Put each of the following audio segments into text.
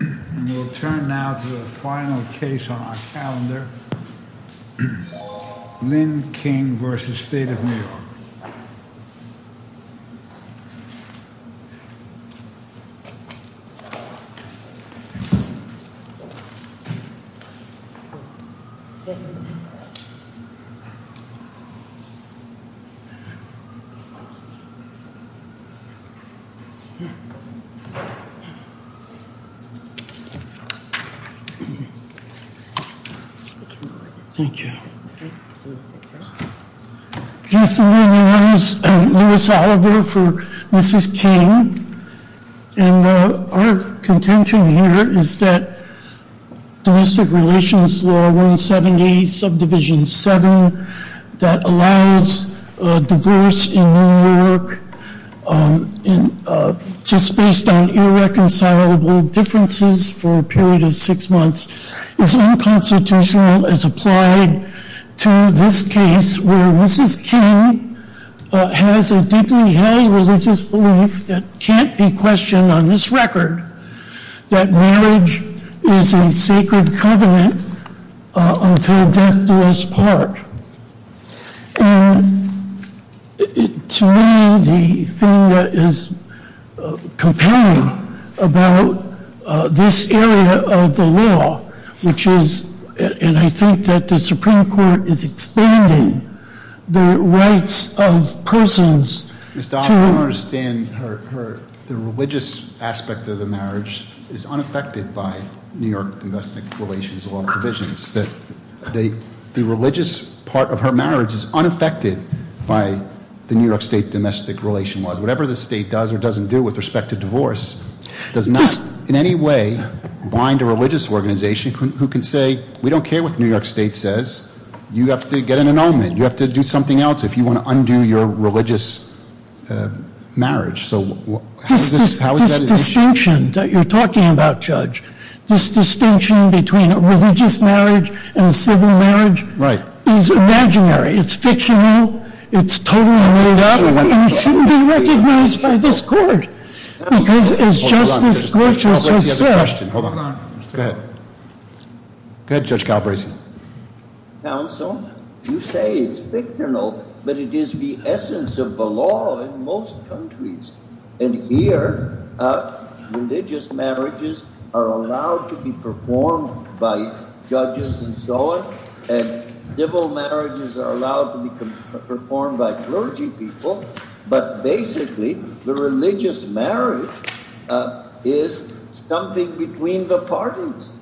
And we'll turn now to the final case on our calendar. Lynn King v. State of New York Thank you. My name is Louis Oliver for Mrs. King. And our contention here is that Domestic Relations Law 170 Subdivision 7 that allows divorce in New York just based on irreconcilable differences for a period of six months is unconstitutional as applied to this case where Mrs. King has a deeply held religious belief that can't be questioned on this record that marriage is a sacred covenant until death do us part. And to me the thing that is compelling about this area of the law which is, and I think that the Supreme Court is expanding the rights of persons to Mr. Oliver, I don't understand the religious aspect of the marriage is unaffected by New York Domestic Relations Law provisions that the religious part of her marriage is unaffected by the New York State Domestic Relations Law. Whatever the state does or doesn't do with respect to divorce does not in any way bind a religious organization who can say we don't care what the New York State says you have to get an annulment you have to do something else if you want to undo your religious marriage. So how is that? This distinction that you're talking about, Judge this distinction between a religious marriage and a civil marriage is imaginary it's fictional, it's totally made up and it shouldn't be recognized by this court because as Justice Glitches has said hold on, go ahead go ahead Judge Galbraithson Counsel, you say it's fictional but it is the essence of the law in most countries and here religious marriages are allowed to be performed by judges and so on and civil marriages are allowed to be performed by clergy people but basically the religious marriage is something between the parties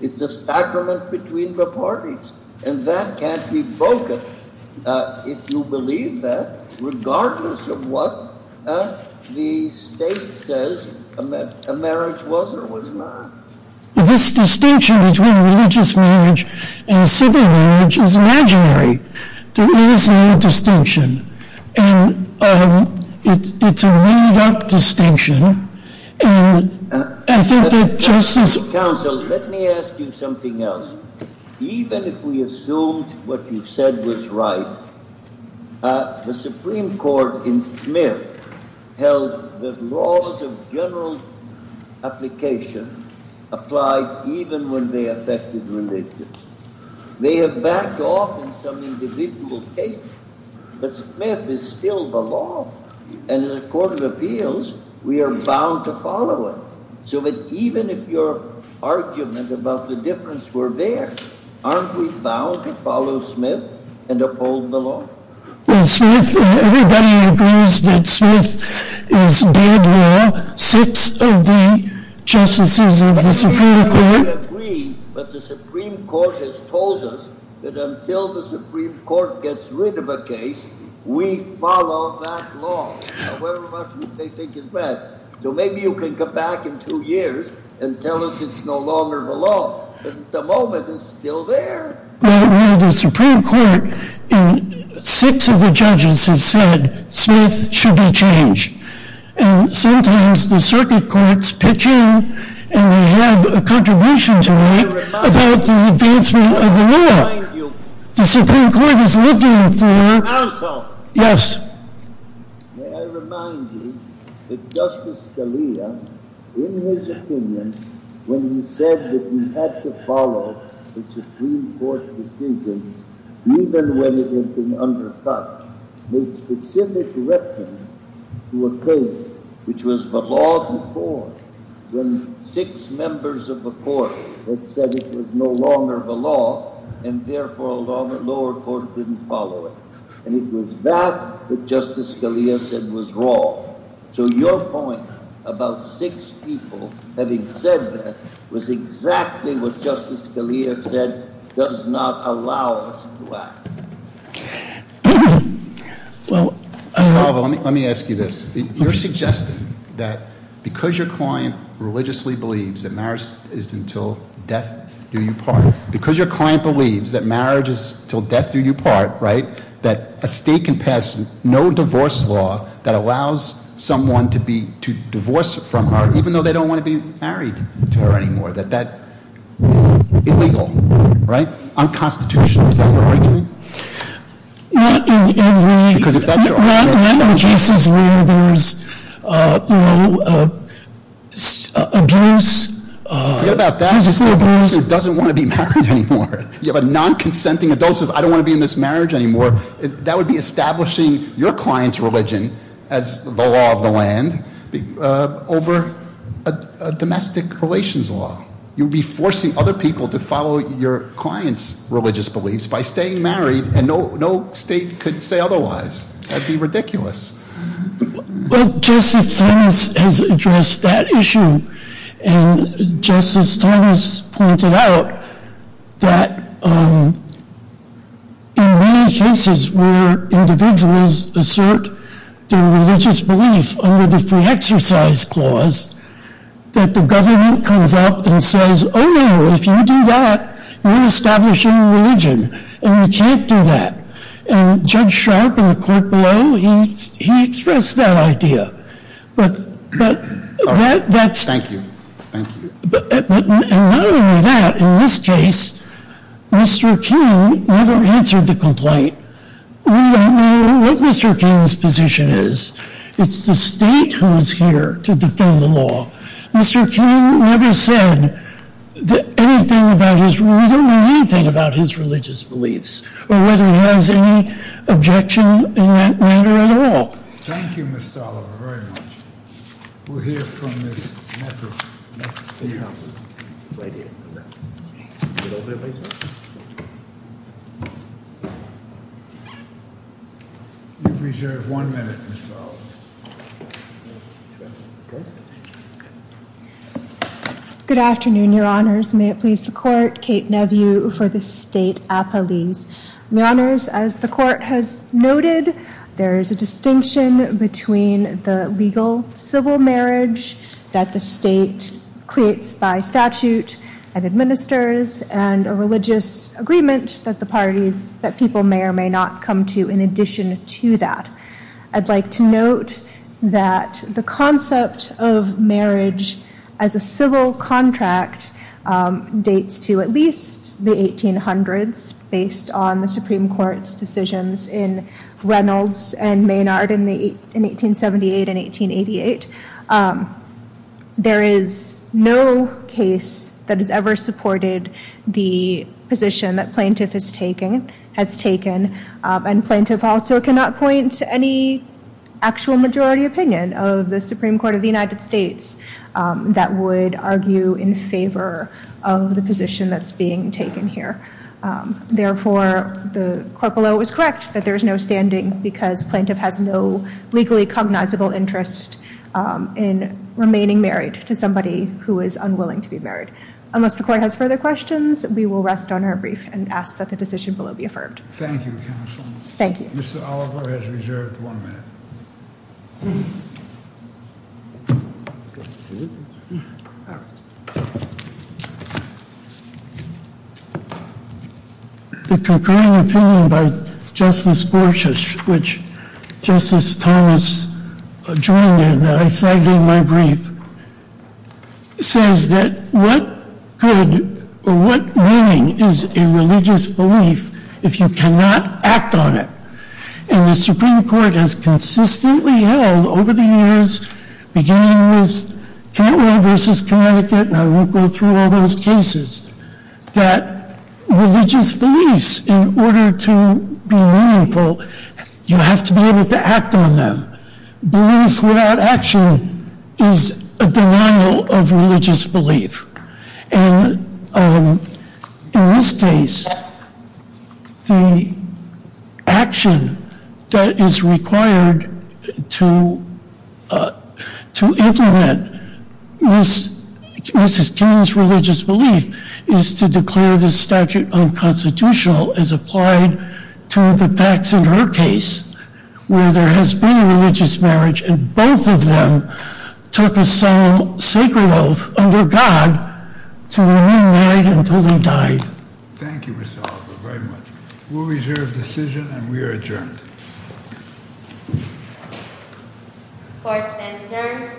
it's a sacrament between the parties and that can't be broken if you believe that regardless of what the state says a marriage was or was not this distinction between a religious marriage and a civil marriage is imaginary there is no distinction and it's a made up distinction and I think that Justice Counsel, let me ask you something else even if we assumed what you said was right the Supreme Court in Smith held the laws of general application applied even when they affected religious they have backed off in some individual case but Smith is still the law and in a court of appeals we are bound to follow it so that even if your argument about the difference were there aren't we bound to follow Smith and uphold the law? Well Smith, everybody agrees that Smith is dead now six of the justices of the Supreme Court I agree but the Supreme Court has told us that until the Supreme Court gets rid of a case we follow that law however much they think is right so maybe you can come back in two years and tell us it's no longer the law but at the moment it's still there Well the Supreme Court six of the judges have said Smith should be changed and sometimes the circuit courts pitch in and they have a contribution to me about the advancement of the law the Supreme Court is looking for Counsel Yes May I remind you that Justice Scalia in his opinion when he said that we had to follow the Supreme Court decision even when it had been undercut made specific reference to a case which was the law before when six members of the court had said it was no longer the law and therefore the lower court didn't follow it and it was that that Justice Scalia said was wrong so your point about six people having said that was exactly what Justice Scalia said and it does not allow us to act Mr. Calvo let me ask you this you're suggesting that because your client religiously believes that marriage is until death do you part because your client believes that marriage is until death do you part that a state can pass no divorce law that allows someone to be to divorce from her even though they don't want to be unconstitutional right unconstitutional is that your argument not in every because if that's your argument not in cases where there's you know abuse forget about that a person who doesn't want to be married anymore you have a non-consenting adult who says I don't want to be in this marriage anymore that would be establishing your client's religion as the law of the land over a domestic relations law your client's religious beliefs by staying married and no state could say otherwise that would be ridiculous Justice Thomas has addressed that issue and Justice Thomas pointed out that in many cases where individuals assert their religious belief under the free exercise clause that the government comes up and says oh no if you do that you're establishing religion and you can't do that and Judge Sharp in the court below he expressed that idea but that's and not only that in this case Mr. King never answered the complaint we don't know what Mr. King's position is it's the state who is here to defend the law Mr. King never said anything about his we don't know anything about his religious beliefs or whether he has any objection in that matter at all Thank you Ms. Tolliver very much we'll hear from Ms. McAfee Ms. McAfee You've reserved one minute Ms. Tolliver Good afternoon Your Honors may it please the court Kate Nevue for the State Appellees Your Honors as the court has noted there is a distinction between the legal civil marriage that the state creates by statute and administers and a religious agreement that the parties that people may or may not come to in addition to that I'd like to note that the concept of marriage as a civil contract dates to at least the 1800s based on the Supreme Court's decisions in Reynolds and Maynard in 1878 and 1888 there is no case that has ever supported the position that plaintiff has taken and plaintiff also cannot point to any actual majority opinion of the Supreme Court of the United States that would argue in favor of the position that's being taken here therefore the court below is correct that there is no standing because plaintiff has no legally cognizable interest in remaining married to somebody who is unwilling to be married unless the court has further questions we will rest on our brief and ask that the decision below be affirmed thank you counsel thank you Mr. Oliver has reserved one minute the concurring opinion by Justice Gorsuch which Justice Thomas joined in that I cited in my brief says that what good or what meaning is a religious belief if you cannot act on it and the Supreme Court has consistently held over the years beginning with Cantwell v. Connecticut and I will go through all those cases that religious beliefs in order to be meaningful you have to be able to act on them belief without action is a denial of religious belief and in this case the action that is required to to implement Mrs. King's religious belief is to declare the statute unconstitutional as applied to the facts in her case where there has been a religious marriage and both of them took a solemn sacred oath under God to remain married until they died Thank you Mr. Hoffer very much We'll reserve decision and we are adjourned Court is adjourned